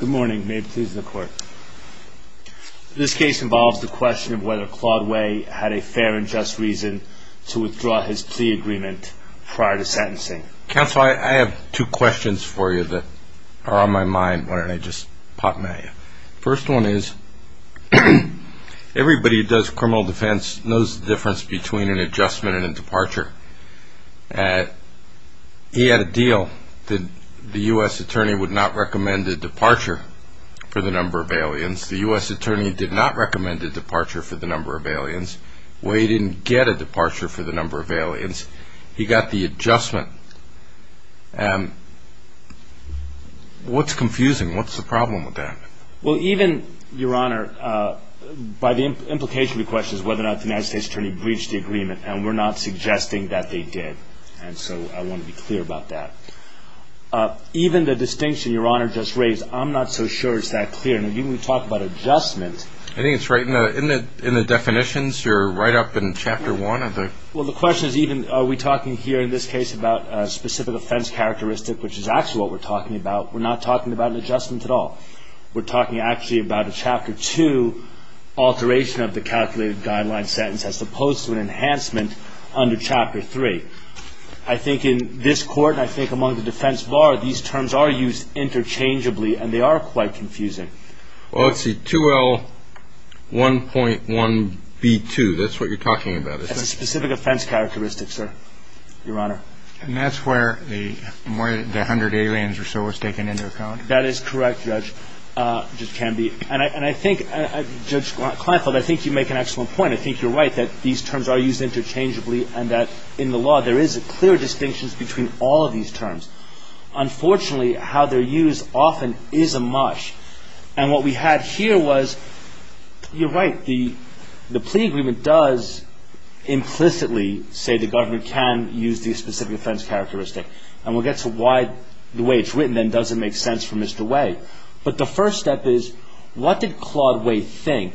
Good morning. May it please the court. This case involves the question of whether Claude Wei had a fair and just reason to withdraw his plea agreement prior to sentencing. Counsel, I have two questions for you that are on my mind. Why don't I just pop them at you? First one is, everybody who does criminal defense knows the difference between an adjustment and a departure. He had a deal that the U.S. attorney would not recommend a departure for the number of aliens. The U.S. attorney did not recommend a departure for the number of aliens. Wei didn't get a departure for the number of aliens. He got the adjustment. What's confusing? What's the problem with that? Well, even, Your Honor, by the implication of the question is whether or not the U.S. attorney breached the agreement. And we're not suggesting that they did. And so I want to be clear about that. Even the distinction Your Honor just raised, I'm not so sure it's that clear. And even when you talk about adjustment. I think it's right in the definitions. You're right up in Chapter 1 of the. Well, the question is even are we talking here in this case about a specific offense characteristic, which is actually what we're talking about. We're not talking about an adjustment at all. We're talking actually about a Chapter 2 alteration of the calculated guideline sentence as opposed to an enhancement under Chapter 3. I think in this court, I think among the defense bar, these terms are used interchangeably and they are quite confusing. Well, it's a 2L1.1B2. That's what you're talking about. It's a specific offense characteristic, sir. Your Honor. And that's where the 100 aliens or so was taken into account. That is correct, Judge Canby. And I think, Judge Kleinfeld, I think you make an excellent point. I think you're right that these terms are used interchangeably and that in the law there is a clear distinction between all of these terms. Unfortunately, how they're used often is a mush. And what we had here was you're right. The plea agreement does implicitly say the government can use the specific offense characteristic. And we'll get to why the way it's written then doesn't make sense for Mr. Way. But the first step is what did Claude Way think?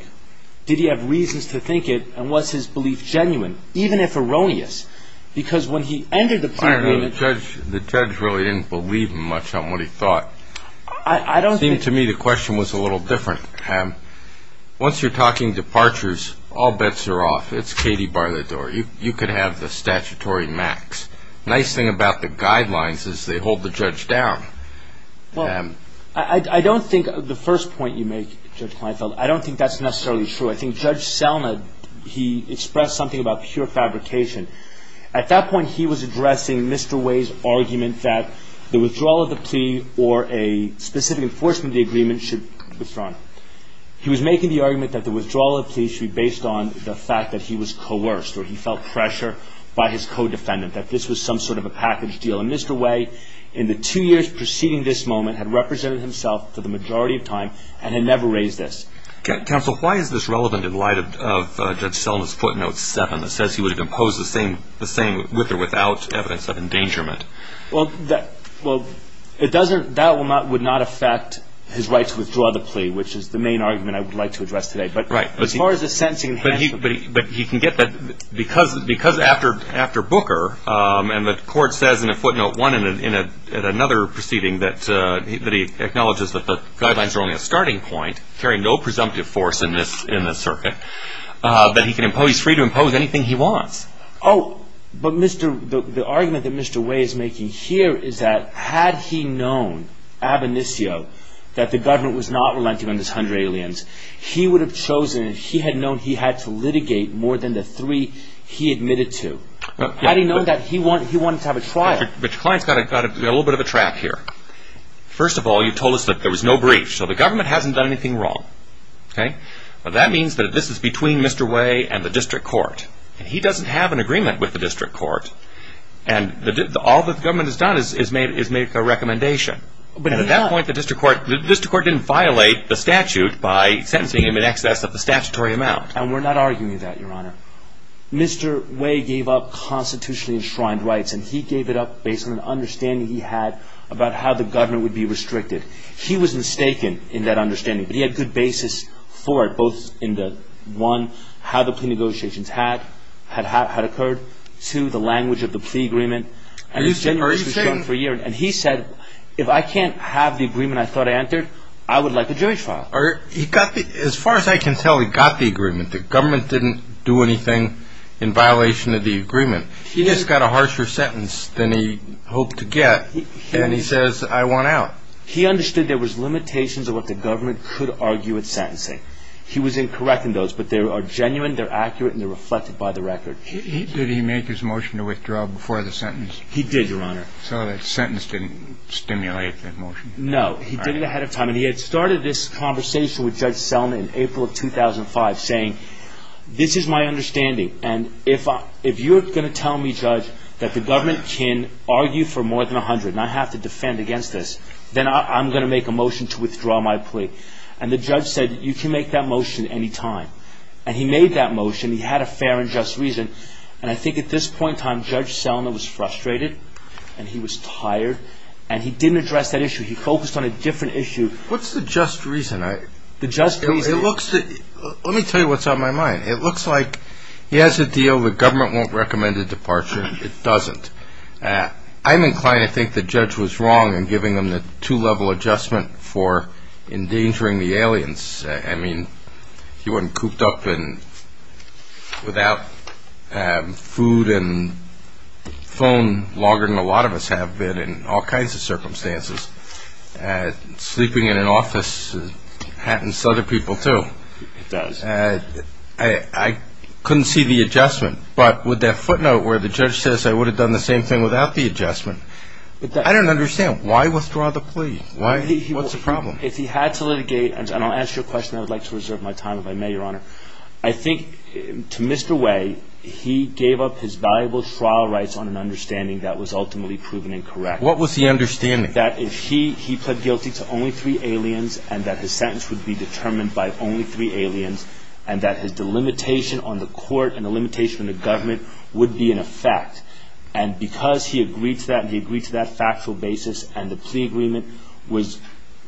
Did he have reasons to think it and was his belief genuine, even if erroneous? Because when he entered the plea agreement... I don't know. The judge really didn't believe much on what he thought. It seemed to me the question was a little different. Once you're talking departures, all bets are off. It's Katie Barletour. You could have the statutory max. Nice thing about the guidelines is they hold the judge down. I don't think the first point you make, Judge Kleinfeld, I don't think that's necessarily true. I think Judge Selnick, he expressed something about pure fabrication. At that point, he was addressing Mr. Way's argument that the withdrawal of the plea or a specific enforcement of the agreement should be withdrawn. He was making the argument that the withdrawal of the plea should be based on the fact that he was coerced or he felt pressure by his co-defendant that this was some sort of a package deal. And Mr. Way, in the two years preceding this moment, had represented himself for the majority of time and had never raised this. Counsel, why is this relevant in light of Judge Selnick's footnote 7 that says he would have imposed the same with or without evidence of endangerment? Well, that would not affect his right to withdraw the plea, which is the main argument I would like to address today. Right. But as far as the sentencing... But he can get that because after Booker and the court says in a footnote 1 and in another proceeding that he acknowledges that the guidelines are only a starting point, carrying no presumptive force in this circuit, that he's free to impose anything he wants. Oh, but the argument that Mr. Way is making here is that had he known, ab initio, that the government was not relenting on this 100 aliens, he would have chosen, he had known he had to litigate more than the three he admitted to. Had he known that, he wanted to have a trial. But the client's got a little bit of a track here. First of all, you told us that there was no brief. So the government hasn't done anything wrong. That means that this is between Mr. Way and the district court. He doesn't have an agreement with the district court, and all that the government has done is make a recommendation. But at that point, the district court didn't violate the statute by sentencing him in excess of the statutory amount. And we're not arguing that, Your Honor. Mr. Way gave up constitutionally enshrined rights, and he gave it up based on an understanding he had about how the government would be restricted. He was mistaken in that understanding, but he had good basis for it, both in the one, how the plea negotiations had occurred, two, the language of the plea agreement. And he said, if I can't have the agreement I thought I entered, I would like a jury trial. As far as I can tell, he got the agreement. The government didn't do anything in violation of the agreement. He just got a harsher sentence than he hoped to get, and he says, I want out. He understood there was limitations of what the government could argue at sentencing. He was incorrect in those, but they are genuine, they're accurate, and they're reflected by the record. Did he make his motion to withdraw before the sentence? He did, Your Honor. So the sentence didn't stimulate the motion? No, he did it ahead of time, and he had started this conversation with Judge Selma in April of 2005, saying, this is my understanding, and if you're going to tell me, Judge, that the government can argue for more than 100, and I have to defend against this, then I'm going to make a motion to withdraw my plea. And the judge said, you can make that motion at any time. And he made that motion. He had a fair and just reason. And I think at this point in time, Judge Selma was frustrated, and he was tired, and he didn't address that issue. He focused on a different issue. What's the just reason? Let me tell you what's on my mind. It looks like he has a deal, the government won't recommend a departure, it doesn't. I'm inclined to think the judge was wrong in giving him the two-level adjustment for endangering the aliens. I mean, he wasn't cooped up without food and phone longer than a lot of us have been in all kinds of circumstances. Sleeping in an office happens to other people, too. It does. I couldn't see the adjustment. But with that footnote where the judge says I would have done the same thing without the adjustment, I don't understand. Why withdraw the plea? What's the problem? If he had to litigate, and I'll answer your question. I would like to reserve my time if I may, Your Honor. I think to Mr. Way, he gave up his valuable trial rights on an understanding that was ultimately proven incorrect. What was the understanding? That if he pled guilty to only three aliens, and that his sentence would be determined by only three aliens, and that the limitation on the court and the limitation on the government would be in effect. And because he agreed to that, and he agreed to that factual basis, and the plea agreement was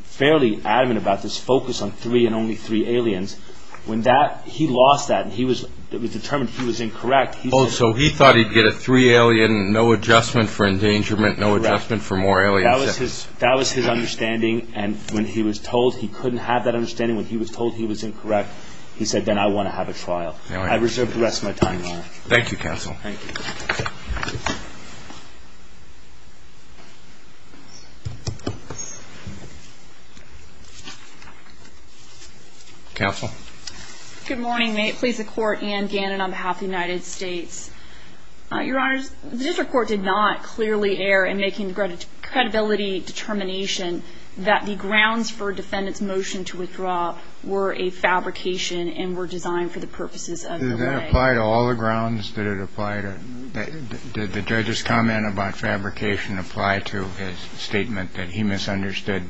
fairly adamant about this focus on three and only three aliens, when he lost that and it was determined he was incorrect, he said... Oh, so he thought he'd get a three alien, no adjustment for endangerment, no adjustment for more aliens. Correct. That was his understanding, and when he was told he couldn't have that understanding, when he was told he was incorrect, he said, then I want to have a trial. I reserve the rest of my time, Your Honor. Thank you, Counsel. Thank you. Counsel. Good morning. May it please the Court, Anne Gannon on behalf of the United States. Your Honors, the district court did not clearly err in making the credibility determination that the grounds for defendant's motion to withdraw were a fabrication and were designed for the purposes of the way. Did that apply to all the grounds? Did it apply to... Did the judge's comment about fabrication apply to his statement that he misunderstood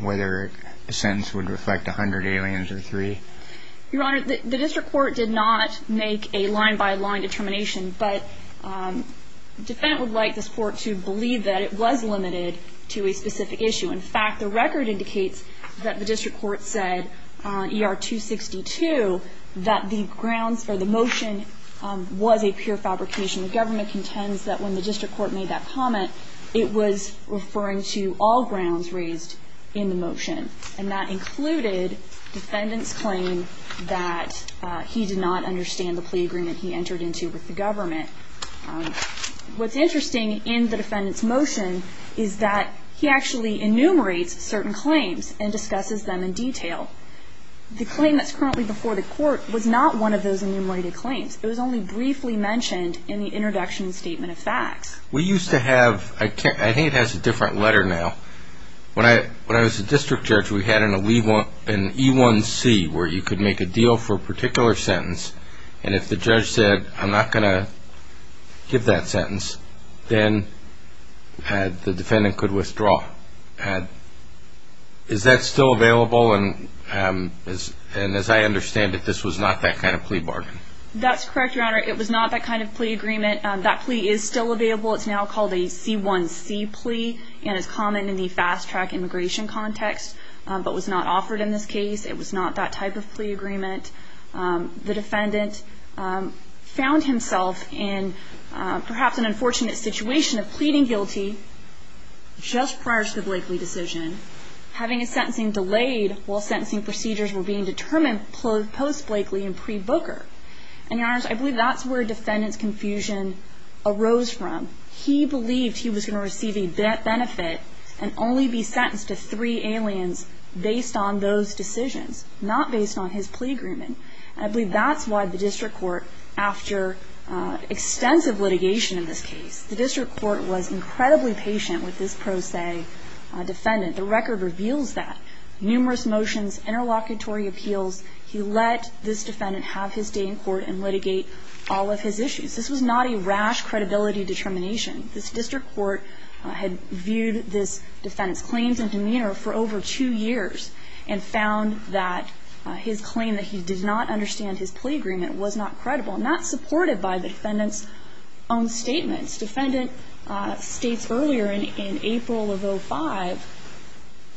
whether a sentence would reflect 100 aliens or three? Your Honor, the district court did not make a line-by-line determination, but the defendant would like this Court to believe that it was limited to a specific issue. In fact, the record indicates that the district court said, ER 262, that the grounds for the motion was a pure fabrication. The government contends that when the district court made that comment, it was referring to all grounds raised in the motion, and that included defendant's claim that he did not understand the plea agreement he entered into with the government. What's interesting in the defendant's motion is that he actually enumerates certain claims and discusses them in detail. The claim that's currently before the Court was not one of those enumerated claims. It was only briefly mentioned in the introduction statement of facts. We used to have... I think it has a different letter now. When I was a district judge, we had an E1C where you could make a deal for a particular sentence, and if the judge said, I'm not going to give that sentence, then the defendant could withdraw. Is that still available? As I understand it, this was not that kind of plea bargain. That's correct, Your Honor. It was not that kind of plea agreement. That plea is still available. It's now called a C1C plea and is common in the fast-track immigration context but was not offered in this case. It was not that type of plea agreement. The defendant found himself in perhaps an unfortunate situation of pleading guilty just prior to the Blakeley decision, having his sentencing delayed while sentencing procedures were being determined post-Blakeley and pre-Booker. And, Your Honor, I believe that's where defendant's confusion arose from. He believed he was going to receive a benefit and only be sentenced to three aliens based on those decisions, not based on his plea agreement. And I believe that's why the district court, after extensive litigation in this case, the district court was incredibly patient with this pro se defendant. The record reveals that. Numerous motions, interlocutory appeals. He let this defendant have his day in court and litigate all of his issues. This was not a rash credibility determination. This district court had viewed this defendant's claims and demeanor for over two years and found that his claim that he did not understand his plea agreement was not credible and not supported by the defendant's own statements. This defendant states earlier in April of 05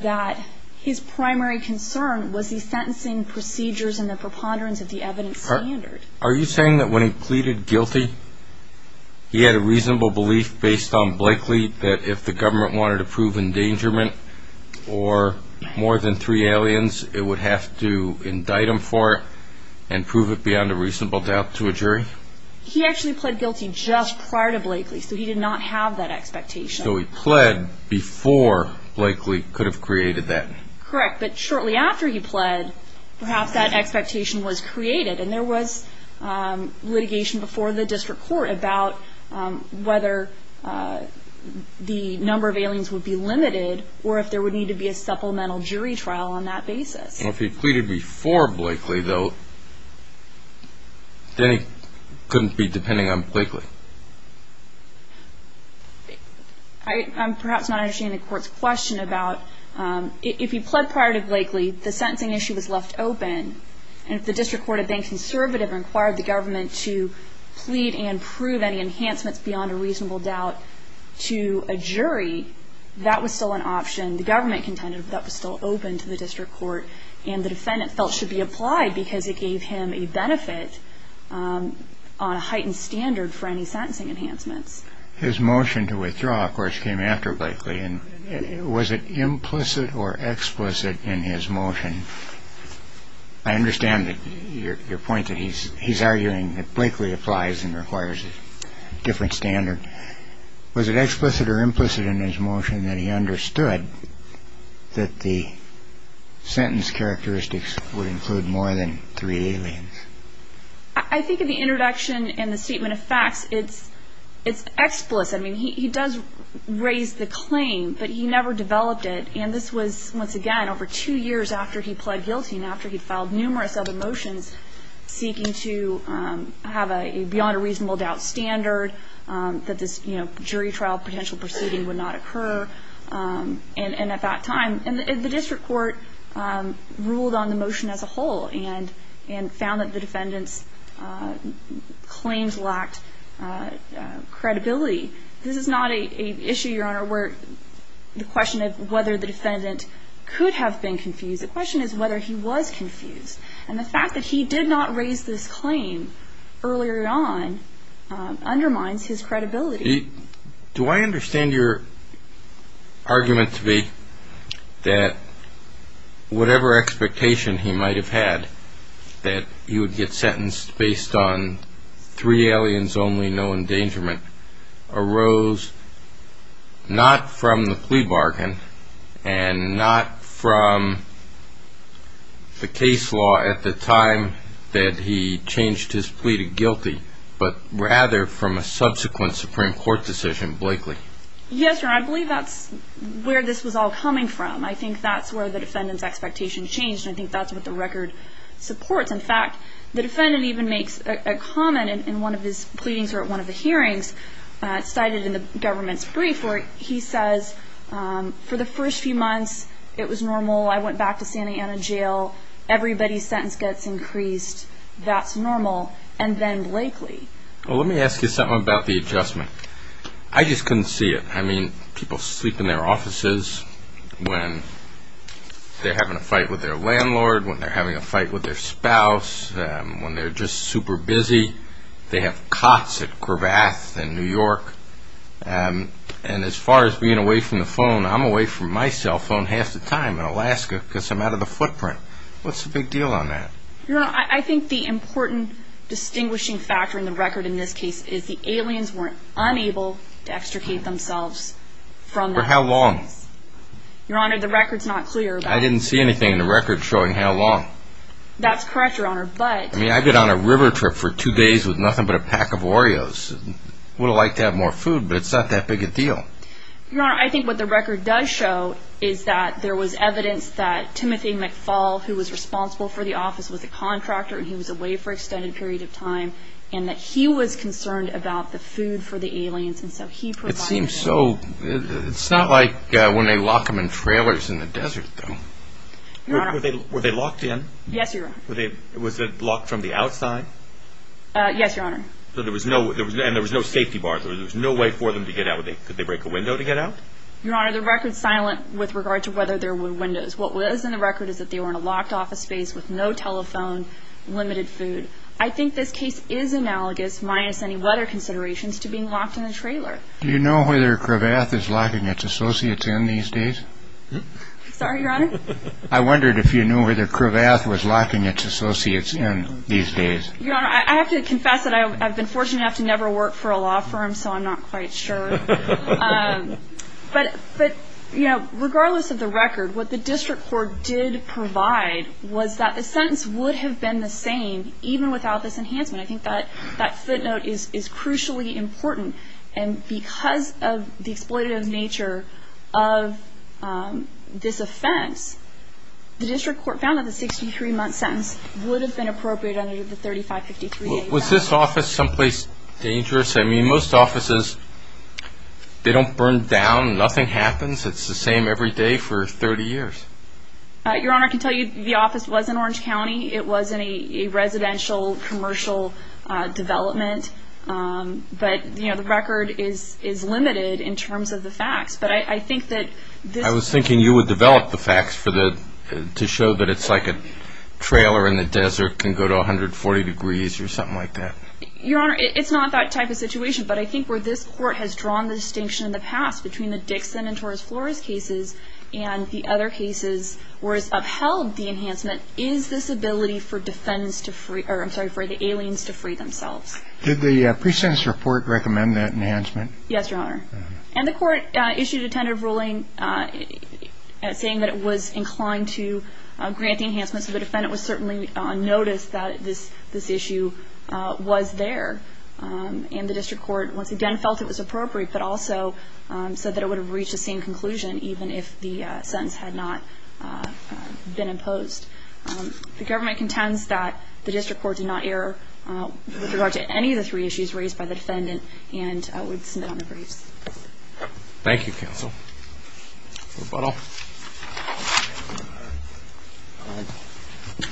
that his primary concern was the sentencing procedures and the preponderance of the evidence standard. Are you saying that when he pleaded guilty, he had a reasonable belief based on Blakeley that if the government wanted to prove endangerment or more than three aliens, it would have to indict him for it and prove it beyond a reasonable doubt to a jury? He actually pled guilty just prior to Blakeley, so he did not have that expectation. So he pled before Blakeley could have created that? Correct. But shortly after he pled, perhaps that expectation was created and there was litigation before the district court about whether the number of aliens would be limited or if there would need to be a supplemental jury trial on that basis. Well, if he pleaded before Blakeley, though, then he couldn't be depending on Blakeley. I'm perhaps not understanding the court's question about if he pled prior to Blakeley, the sentencing issue was left open, and if the district court had been conservative and required the government to plead and prove any enhancements beyond a reasonable doubt to a jury, that was still an option. The government contended that was still open to the district court and the defendant felt should be applied because it gave him a benefit on a heightened standard for any sentencing enhancements. His motion to withdraw, of course, came after Blakeley. Was it implicit or explicit in his motion? I understand your point that he's arguing that Blakeley applies and requires a different standard. Was it explicit or implicit in his motion that he understood that the sentence characteristics would include more than three aliens? I think in the introduction and the statement of facts, it's explicit. I mean, he does raise the claim, but he never developed it. And this was, once again, over two years after he pled guilty and after he filed numerous other motions seeking to have a beyond-a-reasonable-doubt standard, that this jury trial potential proceeding would not occur. And at that time, the district court ruled on the motion as a whole and found that the defendant's claims lacked credibility. This is not an issue, Your Honor, where the question of whether the defendant could have been confused. The question is whether he was confused. And the fact that he did not raise this claim earlier on undermines his credibility. Do I understand your argument to be that whatever expectation he might have had that he would get sentenced based on three aliens only, no endangerment, arose not from the plea bargain and not from the case law at the time that he changed his plea to guilty, but rather from a subsequent Supreme Court decision, Blakely? Yes, Your Honor. I believe that's where this was all coming from. I think that's where the defendant's expectation changed, and I think that's what the record supports. In fact, the defendant even makes a comment in one of his pleadings or at one of the hearings, cited in the government's brief, where he says, for the first few months it was normal, I went back to Santa Ana Jail, everybody's sentence gets increased, that's normal, and then Blakely. Well, let me ask you something about the adjustment. I just couldn't see it. I mean, people sleep in their offices when they're having a fight with their landlord, when they're having a fight with their spouse, when they're just super busy. They have cots at Cravath in New York. And as far as being away from the phone, I'm away from my cell phone half the time in Alaska because I'm out of the footprint. What's the big deal on that? Your Honor, I think the important distinguishing factor in the record in this case is the aliens weren't unable to extricate themselves from that. For how long? Your Honor, the record's not clear. I didn't see anything in the record showing how long. That's correct, Your Honor, but... I mean, I've been on a river trip for two days with nothing but a pack of Oreos. I would have liked to have more food, but it's not that big a deal. Your Honor, I think what the record does show is that there was evidence that Timothy McFall, who was responsible for the office, was a contractor and he was away for an extended period of time, and that he was concerned about the food for the aliens, and so he provided... It seems so... It's not like when they lock them in trailers in the desert, though. Your Honor... Were they locked in? Yes, Your Honor. Was it locked from the outside? Yes, Your Honor. And there was no safety bar? There was no way for them to get out? Could they break a window to get out? Your Honor, the record's silent with regard to whether there were windows. What was in the record is that they were in a locked office space with no telephone, limited food. I think this case is analogous, minus any weather considerations, to being locked in a trailer. Do you know whether Cravath is locking its associates in these days? Sorry, Your Honor? I wondered if you knew whether Cravath was locking its associates in these days. Your Honor, I have to confess that I've been fortunate enough to never work for a law firm, so I'm not quite sure. But, you know, regardless of the record, what the district court did provide was that the sentence would have been the same even without this enhancement. I think that footnote is crucially important. And because of the exploitative nature of this offense, the district court found that the 63-month sentence would have been appropriate under the 3553A. Was this office someplace dangerous? I mean, most offices, they don't burn down. Nothing happens. It's the same every day for 30 years. Your Honor, I can tell you the office was in Orange County. It was in a residential commercial development. But, you know, the record is limited in terms of the facts. But I think that this ---- I was thinking you would develop the facts to show that it's like a trailer in the desert can go to 140 degrees or something like that. Your Honor, it's not that type of situation. But I think where this court has drawn the distinction in the past between the Dixon and Torres Flores cases and the other cases where it's upheld the enhancement, is this ability for defendants to free ---- I'm sorry, for the aliens to free themselves. Did the pre-sentence report recommend that enhancement? Yes, Your Honor. And the court issued a tentative ruling saying that it was inclined to grant the enhancement. So the defendant was certainly noticed that this issue was there. And the district court, once again, felt it was appropriate, but also said that it would have reached the same conclusion even if the sentence had not been imposed. The government contends that the district court did not err with regard to any of the three issues raised by the defendant, and I would submit on the briefs. Thank you, counsel. Rebuttal.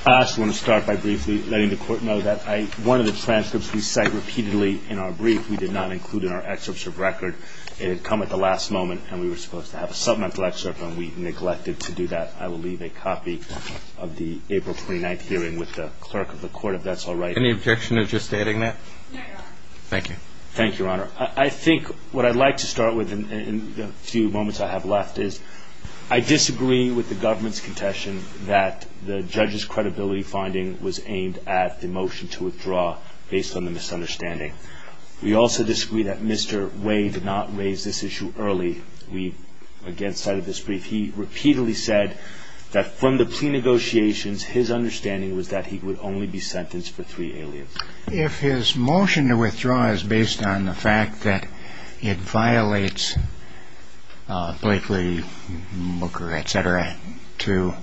I just want to start by briefly letting the court know that one of the transcripts we cite repeatedly in our brief we did not include in our excerpts of record. It had come at the last moment, and we were supposed to have a supplemental excerpt, and we neglected to do that. I will leave a copy of the April 29th hearing with the clerk of the court if that's all right. Any objection to just stating that? No, Your Honor. Thank you. Thank you, Your Honor. I think what I'd like to start with in the few moments I have left is I disagree with the government's contention that the judge's credibility finding was aimed at the motion to withdraw based on the misunderstanding. We also disagree that Mr. Way did not raise this issue early. We, again, cited this brief. He repeatedly said that from the plea negotiations, his understanding was that he would only be sentenced for three aliens. If his motion to withdraw is based on the fact that it violates Blakely, Booker, et cetera, to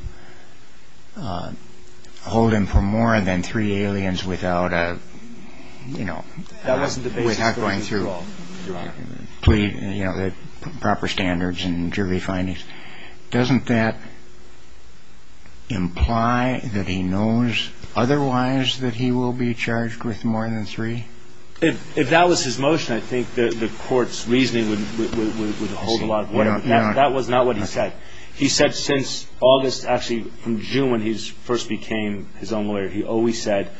hold him for more than three aliens without going through proper standards and jury findings, doesn't that imply that he knows otherwise that he will be charged with more than three? If that was his motion, I think the court's reasoning would hold a lot of weight. That was not what he said. He said since August, actually from June when he first became his own lawyer, he always said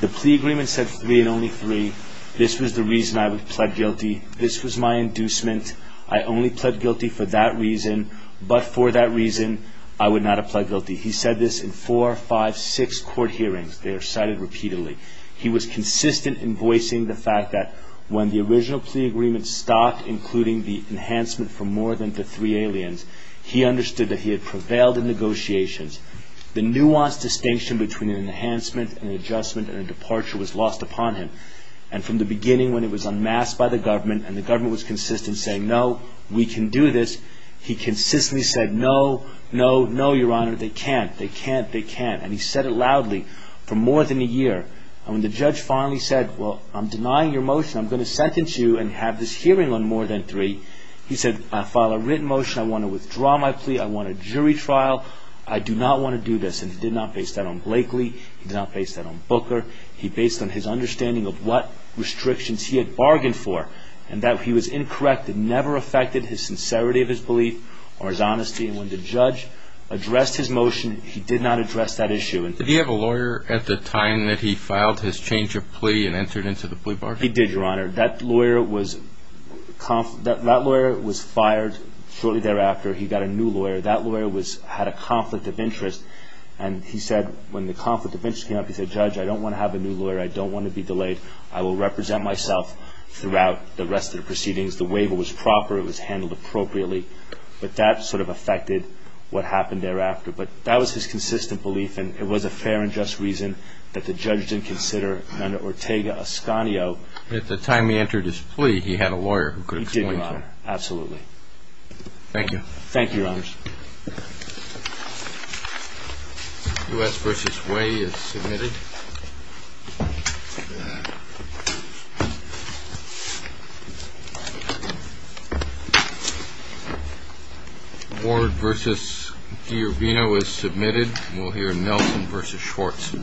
the plea agreement said three and only three. This was the reason I pled guilty. This was my inducement. I only pled guilty for that reason, but for that reason, I would not have pled guilty. He said this in four, five, six court hearings. They are cited repeatedly. He was consistent in voicing the fact that when the original plea agreement stopped, including the enhancement for more than the three aliens, he understood that he had prevailed in negotiations. The nuanced distinction between an enhancement, an adjustment, and a departure was lost upon him, and from the beginning when it was unmasked by the government and the government was consistent in saying no, we can do this, he consistently said no, no, no, Your Honor, they can't, they can't, they can't, and he said it loudly for more than a year. When the judge finally said, well, I'm denying your motion. I'm going to sentence you and have this hearing on more than three, he said, I file a written motion. I want to withdraw my plea. I want a jury trial. I do not want to do this, and he did not base that on Blakely. He did not base that on Booker. He based it on his understanding of what restrictions he had bargained for and that he was incorrect and never affected his sincerity of his belief or his honesty, and when the judge addressed his motion, he did not address that issue. Did he have a lawyer at the time that he filed his change of plea and entered into the plea bargain? He did, Your Honor. That lawyer was fired shortly thereafter. He got a new lawyer. That lawyer had a conflict of interest, and he said when the conflict of interest came up, he said, Judge, I don't want to have a new lawyer. I don't want to be delayed. I will represent myself throughout the rest of the proceedings. The waiver was proper. It was handled appropriately, but that sort of affected what happened thereafter, but that was his consistent belief, and it was a fair and just reason that the judge didn't consider under Ortega-Escanio. At the time he entered his plea, he had a lawyer who could explain to him. He did, Your Honor. Absolutely. Thank you. Thank you, Your Honor. U.S. v. Way is submitted. Ward v. Giorvino is submitted. We'll hear Nelson v. Schwartz.